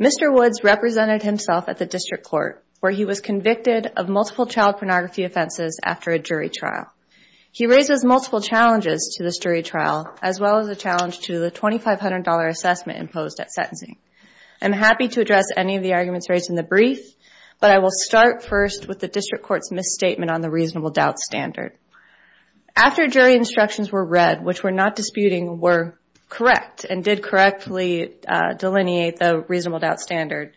Mr. Woods represented himself at the district court where he was convicted of multiple child pornography offenses after a jury trial. He raises multiple challenges to this jury trial as well as a challenge to the $2,500 assessment imposed at sentencing. I'm happy to address any of the arguments raised in the brief, but I will start first with the district court's misstatement on the reasonable doubt standard. After jury instructions were read, which were not disputing, were correct and did correctly delineate the reasonable doubt standard.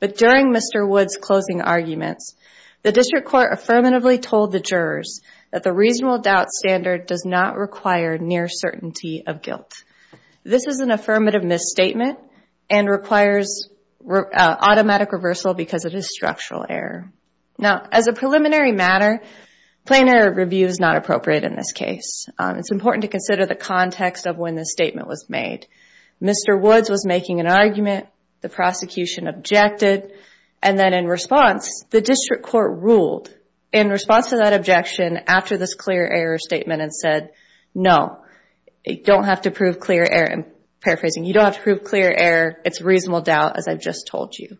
But during Mr. Woods' closing arguments, the district court affirmatively told the jurors that the reasonable doubt standard does not require near certainty of guilt. This is an affirmative misstatement and requires automatic reversal because it is structural error. As a preliminary matter, plain error review is not appropriate in this case. It's important to consider the context of when this statement was made. Mr. Woods was making an argument, the prosecution objected, and then in response, the district court ruled in response to that objection after this clear error statement and said, no, you don't have to prove clear error. I'm paraphrasing. You don't have to prove clear error. It's reasonable doubt as I've just told you.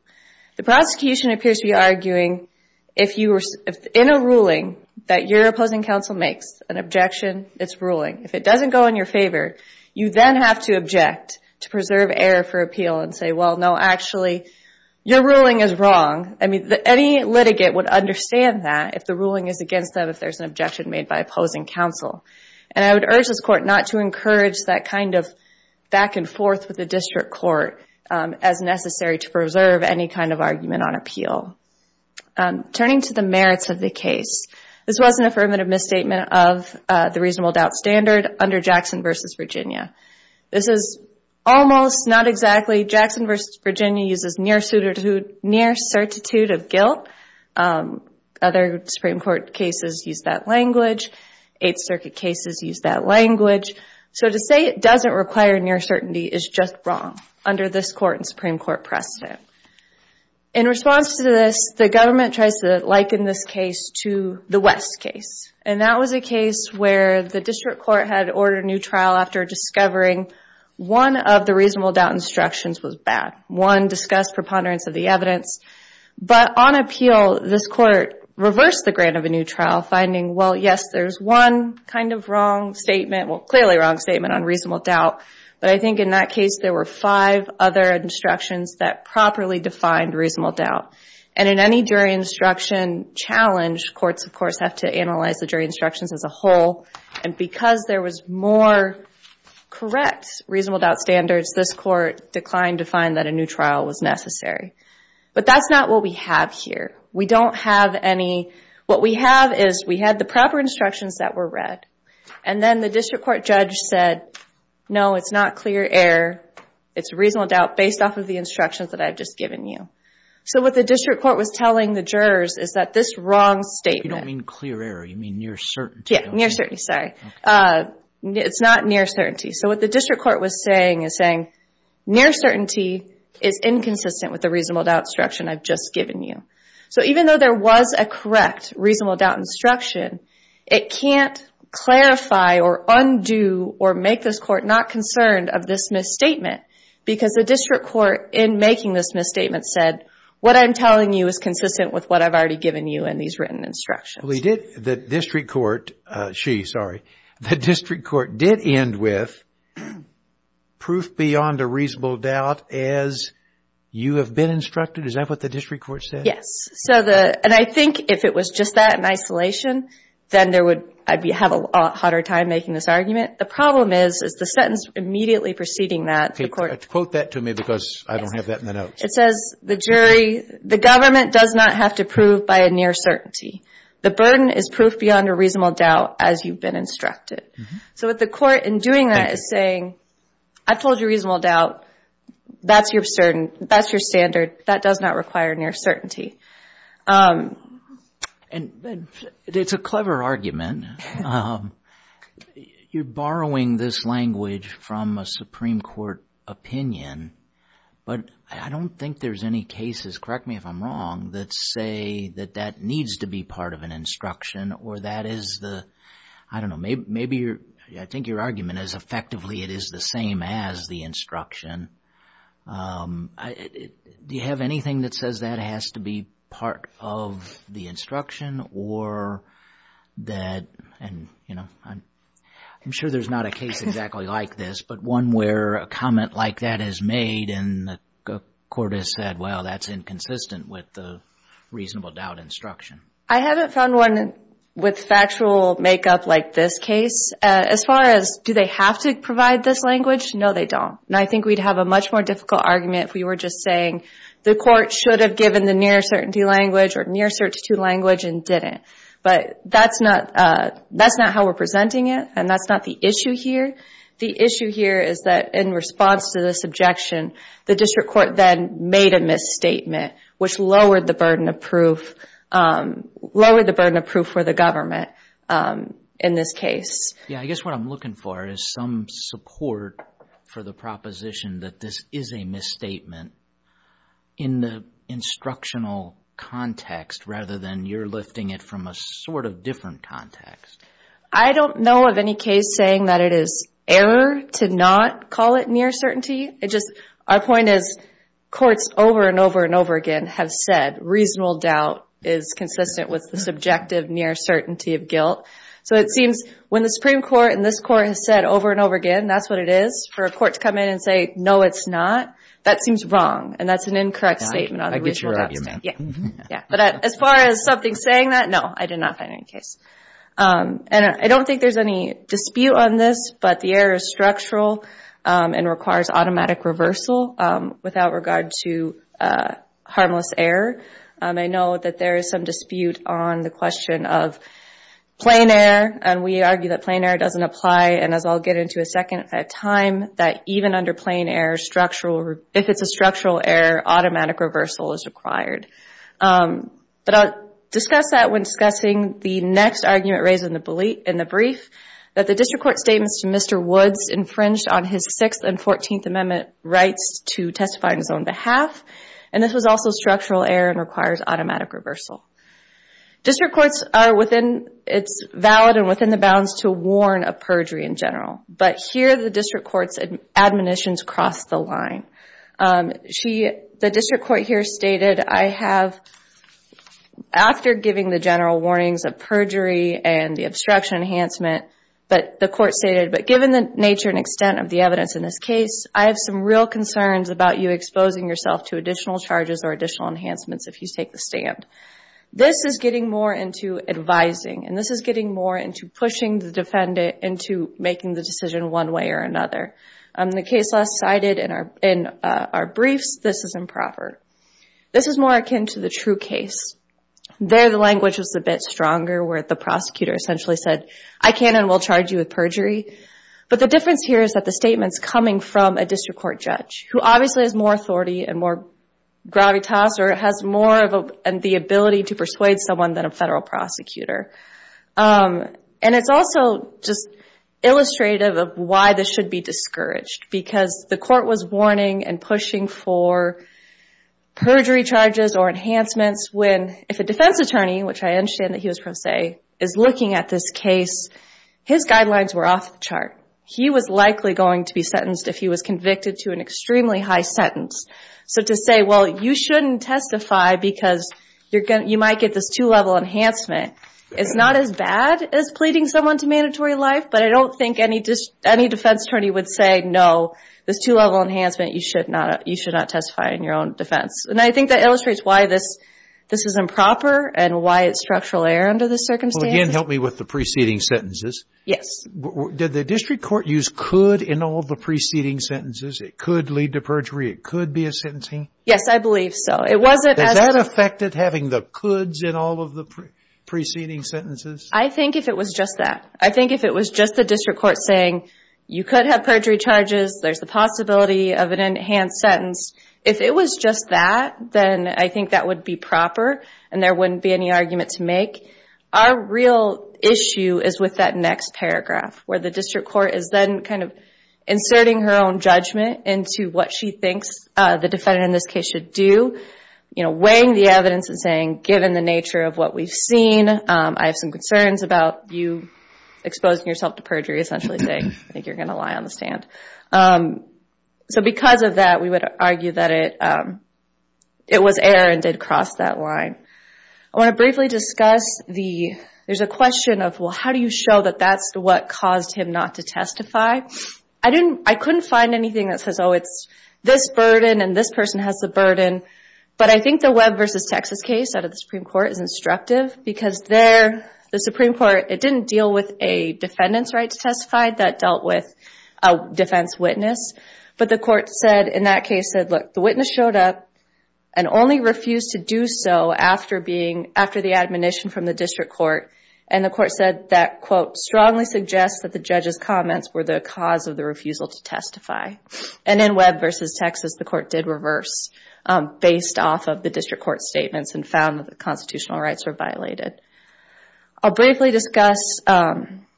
The prosecution appears to be arguing, if in a ruling that your opposing counsel makes an objection, it's ruling. If it doesn't go in your favor, you then have to object to preserve error for appeal and say, well, no, actually, your ruling is wrong. Any litigate would understand that if the ruling is against them, if there's an objection made by opposing counsel. And I would urge this court not to encourage that kind of back and forth with the district court as necessary to preserve any kind of argument on appeal. Turning to the merits of the case, this was an affirmative misstatement of the reasonable doubt standard under Jackson v. Virginia. This is almost, not exactly, Jackson v. Virginia uses near certitude of guilt. Other Supreme Court cases use that language. Eighth Circuit cases use that language. So to say it doesn't require near certainty is just wrong under this court and Supreme Court precedent. In response to this, the government tries to liken this case to the West case. And that was a case where the district court had ordered a new trial after discovering one of the reasonable doubt instructions was bad. One discussed preponderance of the evidence. But on appeal, this court reversed the grant of a new trial finding, well, yes, there's one kind of wrong statement, well, clearly wrong statement on reasonable doubt. But I think in that case, there were five other instructions that properly defined reasonable doubt. And in any jury instruction challenge, courts, of course, have to analyze the jury instructions as a whole. And because there was more correct reasonable doubt standards, this court declined to find that a new trial was necessary. But that's not what we have here. We don't have any, what we have is we had the proper judge said, no, it's not clear error. It's reasonable doubt based off of the instructions that I've just given you. So what the district court was telling the jurors is that this wrong statement. If you don't mean clear error, you mean near certainty. Yeah, near certainty, sorry. It's not near certainty. So what the district court was saying is saying, near certainty is inconsistent with the reasonable doubt instruction I've just given you. So even though there was a correct reasonable doubt instruction, it can't clarify or undo or make this court not concerned of this misstatement because the district court in making this misstatement said, what I'm telling you is consistent with what I've already given you in these written instructions. Well, he did, the district court, she, sorry, the district court did end with proof beyond a reasonable doubt as you have been instructed. Is that what the district court said? Yes. So the, and I think if it was just that in isolation, then there would, I'd be, have a lot harder time making this argument. The problem is, is the sentence immediately preceding that the court- Quote that to me because I don't have that in the notes. It says, the jury, the government does not have to prove by a near certainty. The burden is proof beyond a reasonable doubt as you've been instructed. So what the court in doing that is saying, I've told you reasonable doubt. That's your standard. That does not require near certainty. And it's a clever argument. You're borrowing this language from a Supreme Court opinion, but I don't think there's any cases, correct me if I'm wrong, that say that that needs to be part of an instruction or that is the, I don't know, maybe you're, I think your argument is effectively it is the same as the instruction. Do you have anything that says that has to be part of the instruction or that, and you know, I'm sure there's not a case exactly like this, but one where a comment like that is made and the court has said, well, that's inconsistent with the reasonable doubt instruction. I haven't found one with factual makeup like this case. As far as do they have to provide this language? No, they don't. And I think we'd have a much more difficult argument if we were just saying the court should have given the near certainty language or near certainty language and didn't. But that's not how we're presenting it, and that's not the issue here. The issue here is that in response to this objection, the district court then made a misstatement, which lowered the burden of proof, lowered the burden of proof for the government in this case. Yeah, I guess what I'm looking for is some support for the proposition that this is a misstatement in the instructional context rather than you're lifting it from a sort of different context. I don't know of any case saying that it is error to not call it near certainty. It just, our point is courts over and over and over again have said reasonable doubt is consistent with the subjective near certainty of guilt. So it seems when the Supreme Court and this court has said over and over again that's what it is, for a court to come in and say no it's not, that seems wrong, and that's an incorrect statement on the reasonable doubt Yeah, I get your argument. As far as something saying that, no, I did not find any case. And I don't think there's any dispute on this, but the error is structural and requires automatic reversal without regard to harmless error. I know that there is some dispute on the question of plain error, and we argue that plain error doesn't apply, and as I'll get into in a second, at a time, that even under plain error, if it's a structural error, automatic reversal is required. But I'll discuss that when discussing the next argument raised in the brief, that the district court statements to Mr. Woods infringed on his 6th and 14th Amendment rights to testify on his own behalf, and this was also structural error and requires automatic reversal. District courts are within, it's valid and within the bounds to warn of perjury in general, but here the district court's admonitions cross the line. The district court here stated I have, after giving the general warnings of perjury and the obstruction enhancement, but the court stated, but given the nature and extent of the evidence in this case, I have some real concerns about you exposing yourself to additional charges or additional enhancements if you take the stand. This is getting more into advising, and this is getting more into pushing the defendant into making the decision one way or another. In the case last cited in our briefs, this is improper. This is more akin to the true case. There the language was a bit stronger where the prosecutor essentially said, I can and will charge you with perjury, but the difference here is that the statement's coming from a district court judge, who obviously has more authority and more gravitas, or has more of the ability to persuade someone than a federal prosecutor. And it's also just illustrative of why this should be discouraged, because the court was warning and pushing for perjury charges or enhancements when, if a defense attorney, which I understand that he was pro se, is looking at this case, his guidelines were off the chart. He was likely going to be sentenced if he was convicted to an extremely high sentence. So to say, well, you shouldn't testify because you might get this two-level enhancement is not as bad as pleading someone to mandatory life, but I don't think any defense attorney would say, no, this two-level enhancement, you should not testify in your own defense. And I think that illustrates why this is improper and why it's structural error under this circumstance. Well, again, help me with the preceding sentences. Yes. Did the district court use could in all of the preceding sentences? It could lead to perjury. It could be a sentencing? Yes, I believe so. It wasn't as... Does that affect it, having the coulds in all of the preceding sentences? I think if it was just that. I think if it was just the district court saying, you could have perjury charges, there's the possibility of an enhanced sentence. If it was just that, then I think that would be proper and there wouldn't be any argument to make. Our real issue is with that next paragraph, where the district court is then kind of inserting her own judgment into what she thinks the defendant in this case should do, weighing the evidence and saying, given the nature of what we've seen, I have some concerns about you exposing yourself to perjury, essentially saying, I think you're going to lie on the stand. So because of that, we would argue that it was error and did cross that line. I want to briefly discuss the... There's a question of, well, how do you show that that's what caused him not to testify? I couldn't find anything that says, oh, it's this burden and this person has the burden. But I think the Webb v. Texas case out of the Supreme Court is instructive because there, the Supreme Court, it didn't deal with a defendant's right to testify. That dealt with a defense witness. But the court said, in that case, said, look, the witness showed up and only refused to do so after the admonition from the district court. And the court said that, quote, strongly suggests that the judge's comments were the cause of the refusal to testify. And in Webb v. Texas, the court did reverse based off of the district court statements and found that the constitutional rights were violated. I'll briefly discuss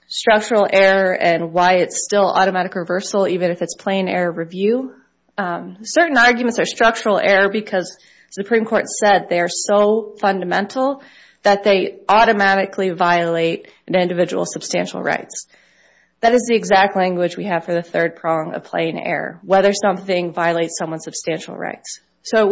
structural error and why it's still automatic reversal, even if it's plain error review. Certain arguments are structural error because the Supreme Court said they are so fundamental that they automatically violate an individual's substantial rights. That is the exact language we have for the third prong of plain error, whether something violates someone's substantial rights. So it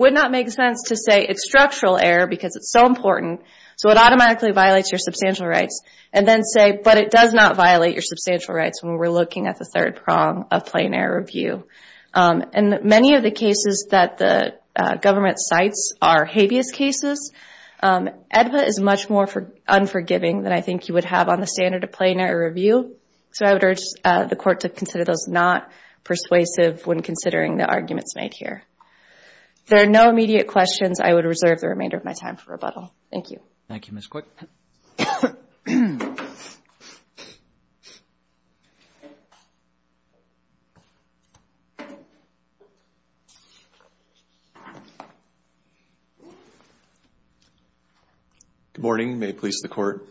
would not make sense to say it's structural error because it's so important. So it automatically violates your substantial rights and then say, but it does not violate your substantial rights when we're looking at the third prong of plain error review. And many of the cases that the government cites are habeas cases. AEDPA is much more unforgiving than I think you would have on a standard of plain error review. So I would urge the court to consider those not persuasive when considering the arguments made here. If there are no immediate questions, I would reserve the remainder of my time for rebuttal. Thank you. Thank you, Ms. Quick. Good morning. May it please the Court.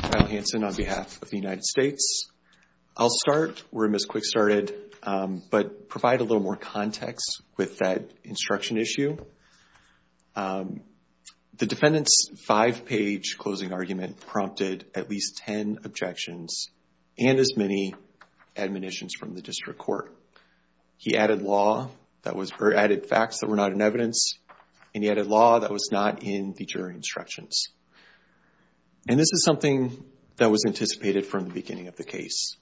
Kyle Hanson on behalf of the United States. I'll start where Ms. Quick started, but provide a little more context with that instruction issue. The defendant's five-page closing argument prompted at least 10 objections and as many admonitions from the district court. He added facts that were not in evidence, and he added law that was not in the jury instructions. And this is something that was anticipated from the beginning of the case.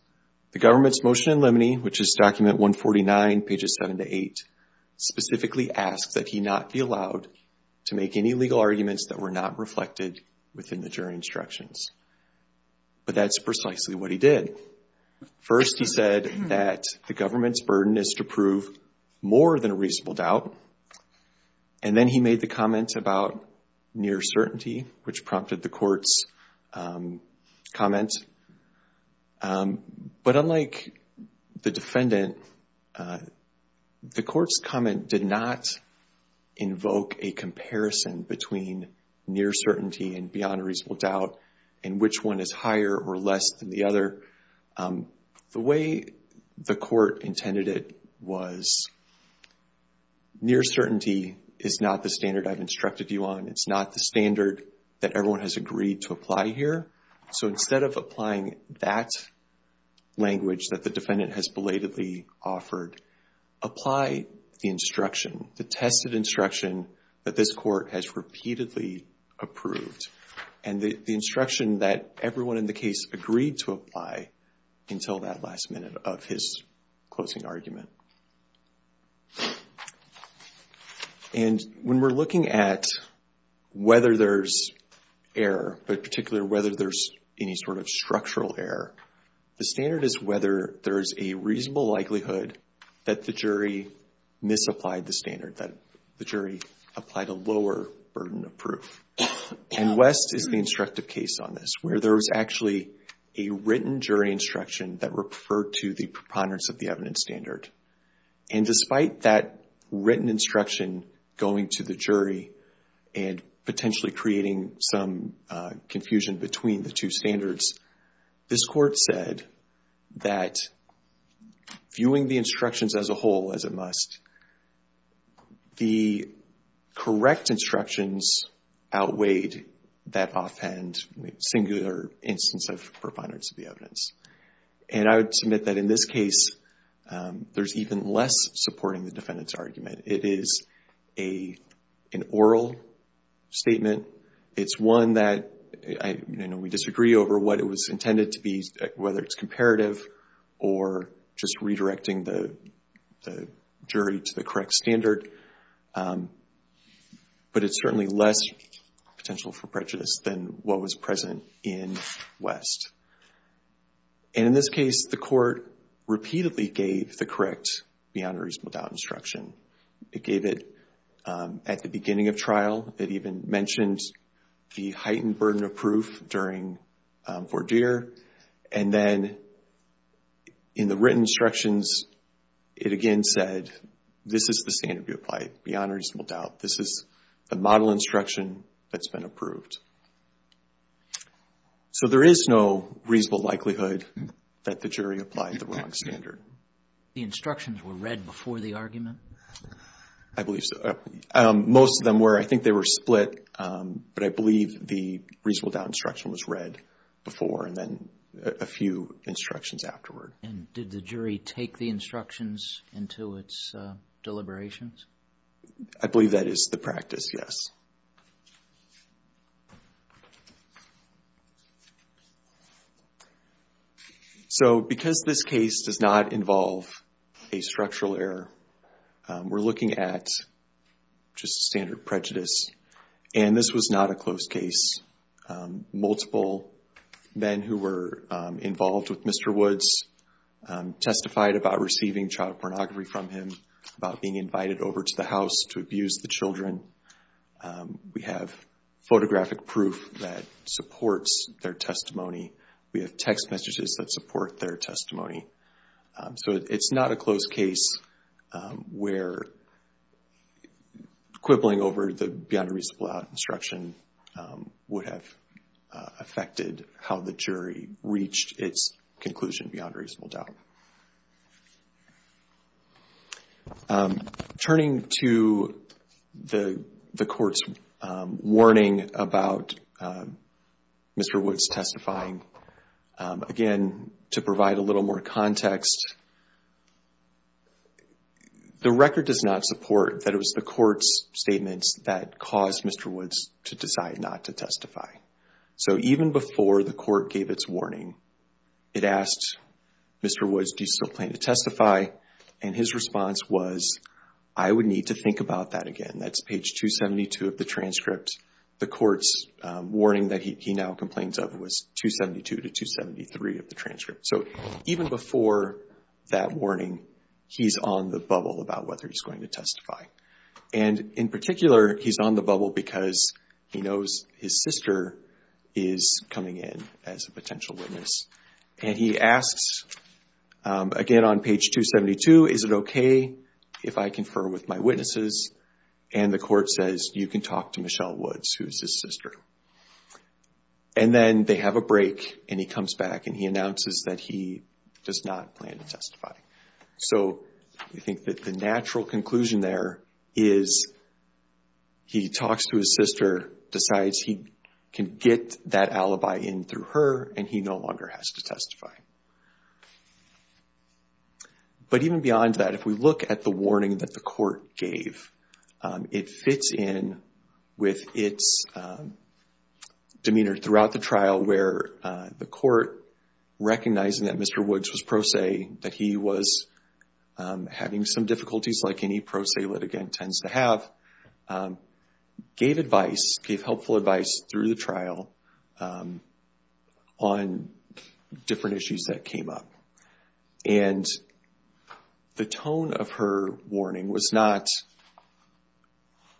The government's motion in limine, which is document 149, pages 7 to 8, specifically asks that he not be allowed to make any legal arguments that were not reflected within the jury instructions. But that's precisely what he did. First, he said that the government's burden is to prove more than a reasonable doubt. And then he made the comment about near certainty, which prompted the court's comment. But unlike the defendant, the court's comment did not invoke a comparison between near certainty and beyond a reasonable doubt, and which one is higher or less than the other. The way the court intended it was near certainty is not the standard I've instructed you on. It's not the standard that everyone has agreed to apply here. So instead of applying that language that the defendant has belatedly offered, apply the instruction, the tested instruction that this court has repeatedly approved, and the instruction that everyone in the case agreed to apply until that last minute of his closing argument. And when we're looking at whether there's error, but particularly whether there's any sort of structural error, the standard is whether there's a reasonable likelihood that the jury misapplied the standard, that the jury applied a lower burden of proof. And West is the instructive case on this, where there was actually a written jury instruction that referred to the preponderance of the evidence standard. And despite that written instruction going to the jury and potentially creating some confusion between the two standards, this court said that viewing the instructions as a whole as a must, the correct instructions outweighed that offhand singular instance of preponderance of the evidence. And I would submit that in this case, there's even less supporting the defendant's argument. It is an oral statement. It's one that we disagree over what it was intended to be, whether it's comparative or just redirecting the jury to the correct standard. But it's certainly less potential for prejudice than what was present in West. And in this case, the court repeatedly gave the correct beyond a reasonable doubt instruction. It gave it at the beginning of trial. It even mentioned the heightened burden of proof during Vordir. And then in the written instructions, it again said, this is the standard we applied, beyond a reasonable doubt. This is a model instruction that's been approved. So there is no reasonable likelihood that the jury applied the wrong standard. The instructions were read before the argument? I believe so. Most of them were. I think they were split. But I believe the reasonable doubt instruction was read before and then a few instructions afterward. And did the jury take the instructions into its deliberations? I believe that is the practice, yes. So because this case does not involve a structural error, we're looking at just standard prejudice. And this was not a closed case. Multiple men who were involved with Mr. Woods testified about receiving child pornography from him, about being invited over to the house to abuse the children. We have photographic proof that supports their testimony. We have text messages that support their testimony. So it's not a closed case where quibbling over the beyond a reasonable doubt instruction would have affected how the jury reached its conclusion beyond a reasonable doubt. Turning to the court's warning about Mr. Woods testifying, again, to provide a little more context, the record does not support that it was the court's statements that caused Mr. Woods to decide not to testify. So even before the court gave its warning, it asked Mr. Woods, do you still plan to testify? And his response was, I would need to think about that again. That's page 272 of the transcript. The court's warning that he now complains of was 272 to 273 of the transcript. So even before that warning, he's on the bubble about whether he's going to testify. And in particular, he's on the bubble because he knows his sister is coming in as a potential witness. And he asks, again on page 272, is it OK if I confer with my witnesses? And the court says, you can talk to Michelle Woods, who's his sister. And then they have a break, and he comes back, and he announces that he does not plan to testify. So we think that the natural conclusion there is he talks to his sister, decides he can get that alibi in through her, and he no longer has to testify. But even beyond that, if we look at the warning that the court gave, it fits in with its demeanor throughout the trial where the court, recognizing that Mr. Woods was pro se, that he was having some difficulties like any pro se litigant tends to have, gave advice, gave helpful advice through the trial on different issues that came up. And the tone of her warning was not,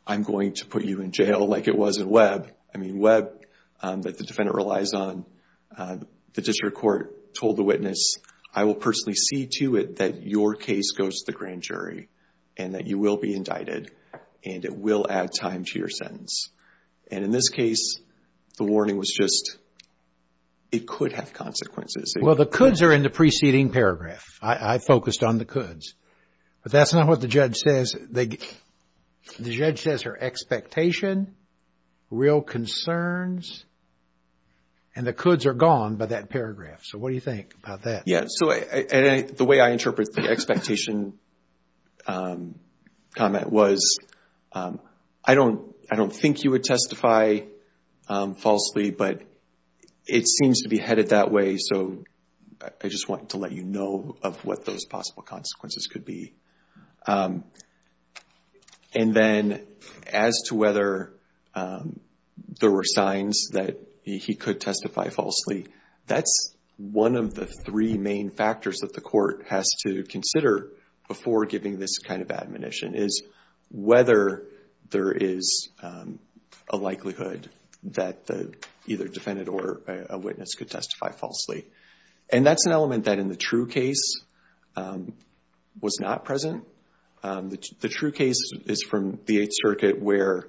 I'm going to put you in jail like it was in Webb. I mean, Webb, that the defendant relies on, the district court told the witness, I will personally see to it that your case goes to the grand jury, and that you will be indicted, and it will add time to your sentence. And in this case, the warning was just, it could have consequences. Well, the coulds are in the preceding paragraph. I focused on the coulds. But that's not what the judge says. The judge says her expectation, real concerns, and the coulds are gone by that paragraph. So what do you think about that? Yeah. So the way I interpret the expectation comment was, I don't think you would testify falsely, but it seems to be headed that way. So I just wanted to let you know of what those possible consequences could be. And then as to whether there were signs that he could testify falsely, that's one of the three main factors that the court has to consider before giving this kind of admonition, is whether there is a likelihood that the either defendant or a witness could testify falsely. And that's an element that in the true case was not present. The true case is from the Eighth Circuit, where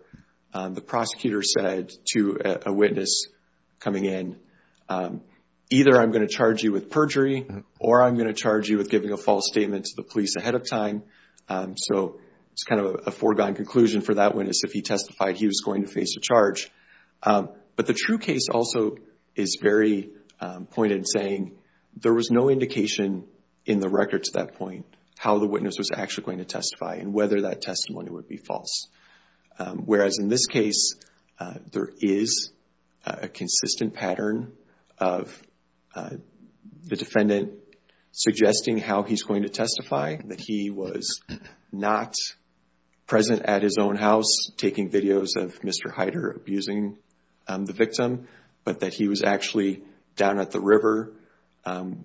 the prosecutor said to a witness coming in, either I'm going to charge you with perjury, or I'm going to charge you with giving a false statement to the police ahead of time. So it's kind of a foregone conclusion for that witness. If he testified, he was going to face a charge. But the true case also is very pointed in saying, there was no indication in the record to that point how the witness was actually going to testify and whether that testimony would be false. Whereas in this case, there is a consistent pattern of the defendant suggesting how he's going to testify, that he was not present at his own house taking videos of Mr. Heider abusing the victim, but that he was actually down at the river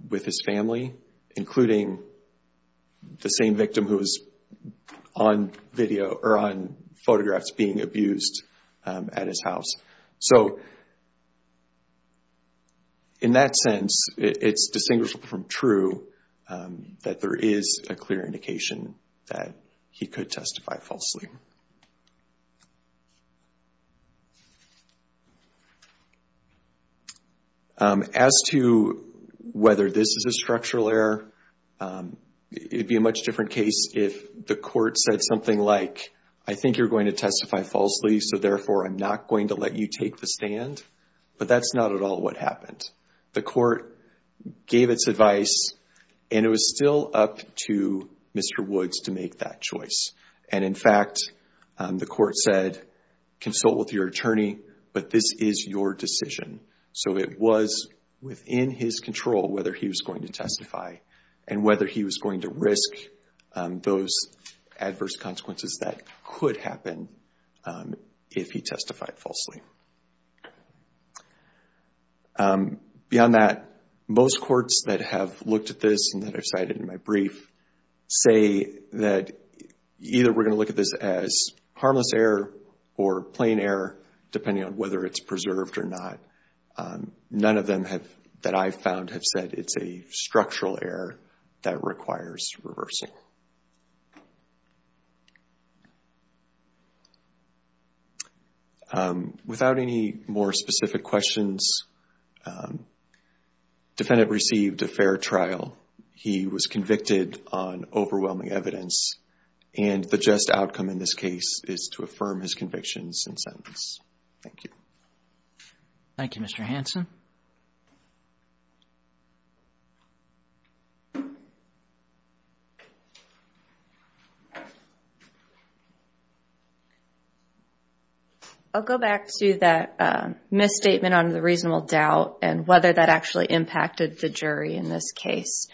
with his family, including the same victim who was on photographs being abused at his house. So in that sense, it's distinguishable from true that there is a clear indication that he could testify falsely. As to whether this is a structural error, it would be a much different case if the court said something like, I think you're going to testify falsely, so therefore I'm not going to let you take the stand. But that's not at all what happened. The court gave its advice and it was still up to Mr. Woods to make that choice. And in fact, the court said, consult with your attorney, but this is your decision. So it was within his control whether he was going to testify and whether he was going to risk those adverse consequences that could happen if he testified falsely. Beyond that, most courts that have looked at this and that I've cited in my brief say that either we're going to look at this as harmless error or plain error, depending on whether it's preserved or not. None of them that I've found have said it's a structural error that requires reversal. Without any more specific questions, defendant received a fair trial. He was convicted on overwhelming evidence and the just outcome in this case is to affirm his convictions and sentence. Thank you. Thank you, Mr. Hanson. I'll go back to that misstatement on the reasonable doubt and whether that actually impacted the jury in this case.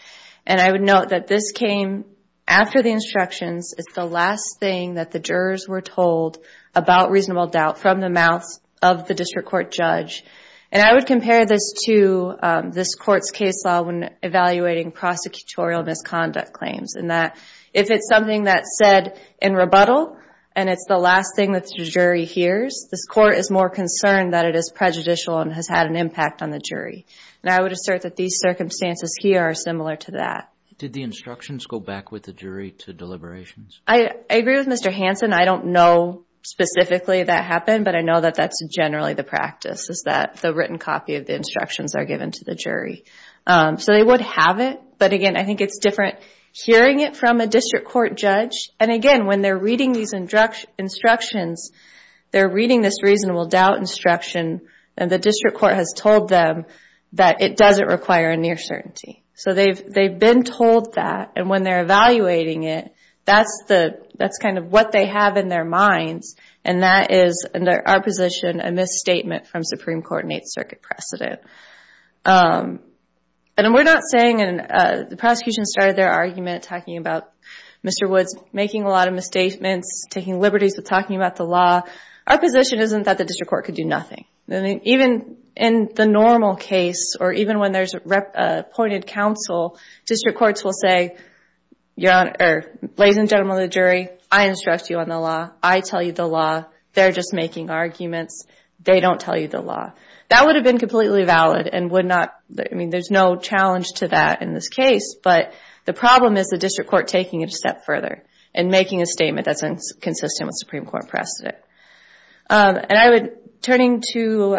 And I would note that this came after the instructions. It's the last thing that the jurors were told about reasonable doubt from the mouth of the district court judge. And I would compare this to this court's case law when evaluating prosecutorial misconduct claims, in that if it's something that's said in rebuttal and it's the last thing that the jury hears, this court is more concerned that it is prejudicial and has had an impact on the jury. And I would assert that these circumstances here are similar to that. Did the instructions go back with the jury to deliberations? I agree with Mr. Hanson. I don't know specifically that happened, but I know that that's generally the practice, is that the written copy of the instructions are given to the jury. So they would have it, but again, I think it's different hearing it from a district court judge. And again, when they're reading these instructions, they're reading this reasonable doubt instruction, and the district court has told them that it doesn't require a near certainty. So they've been told that, and when they're evaluating it, that's kind of what they have in their minds. And that is, in our position, a misstatement from Supreme Court or an Eighth Circuit precedent. And we're not saying, and the prosecution started their argument talking about Mr. Woods making a lot of misstatements, taking liberties with talking about the law. Our position isn't that the district court could do nothing. Even in the normal case, or even when there's appointed counsel, district courts will say, ladies and gentlemen of the jury, I instruct you on the law. I tell you the law. They're just making arguments. They don't tell you the law. That would have been completely valid and would not, I mean, there's no challenge to that in this case, but the problem is the district court taking it a step further and making a statement that's inconsistent with Supreme Court precedent. And I would, turning to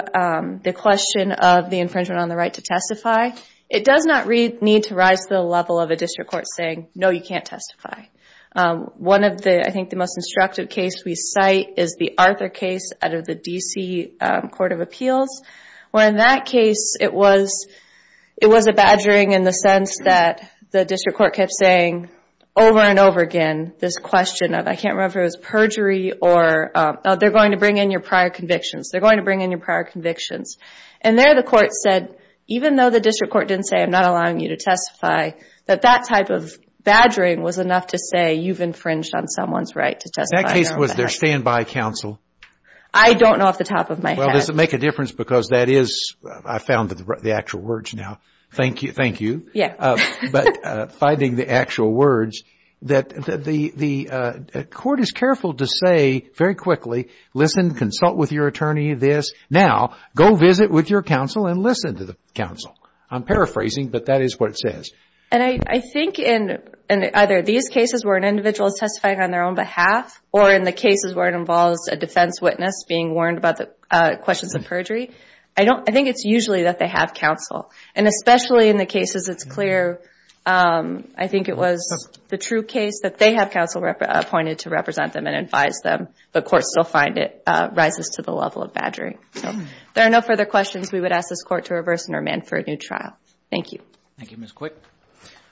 the question of the infringement on the right to testify, it does not need to rise to the level of a district court saying, no, you can't testify. One of the, I think the most instructive case we cite is the Arthur case out of the D.C. Court of Appeals, where in that case it was a badgering in the sense that the district court kept saying over and over again, this question of, I can't remember if it was perjury or, they're going to bring in your prior convictions. They're going to bring in your prior convictions. And there the court said, even though the district court didn't say, I'm not allowing you to testify, that that type of badgering was enough to say you've infringed on someone's right to testify. That case was their standby counsel. I don't know off the top of my head. Well, does it make a difference, because that is, I found the actual words now. Thank you. But finding the actual words, that the court is careful to say very quickly, listen, consult with your attorney this. Now, go visit with your counsel and listen to the counsel. I'm paraphrasing, but that is what it says. And I think in either these cases where an individual is testifying on their own behalf, or in the cases where it involves a defense witness being warned about the questions of perjury, I think it's usually that they have counsel. And especially in the cases it's clear, I think it was the true case, that they have counsel appointed to represent them and advise them, but courts still find it rises to the level of badgering. If there are no further questions, we would ask this Court to reverse and remand for a new trial. Thank you. Thank you, Ms. Quick.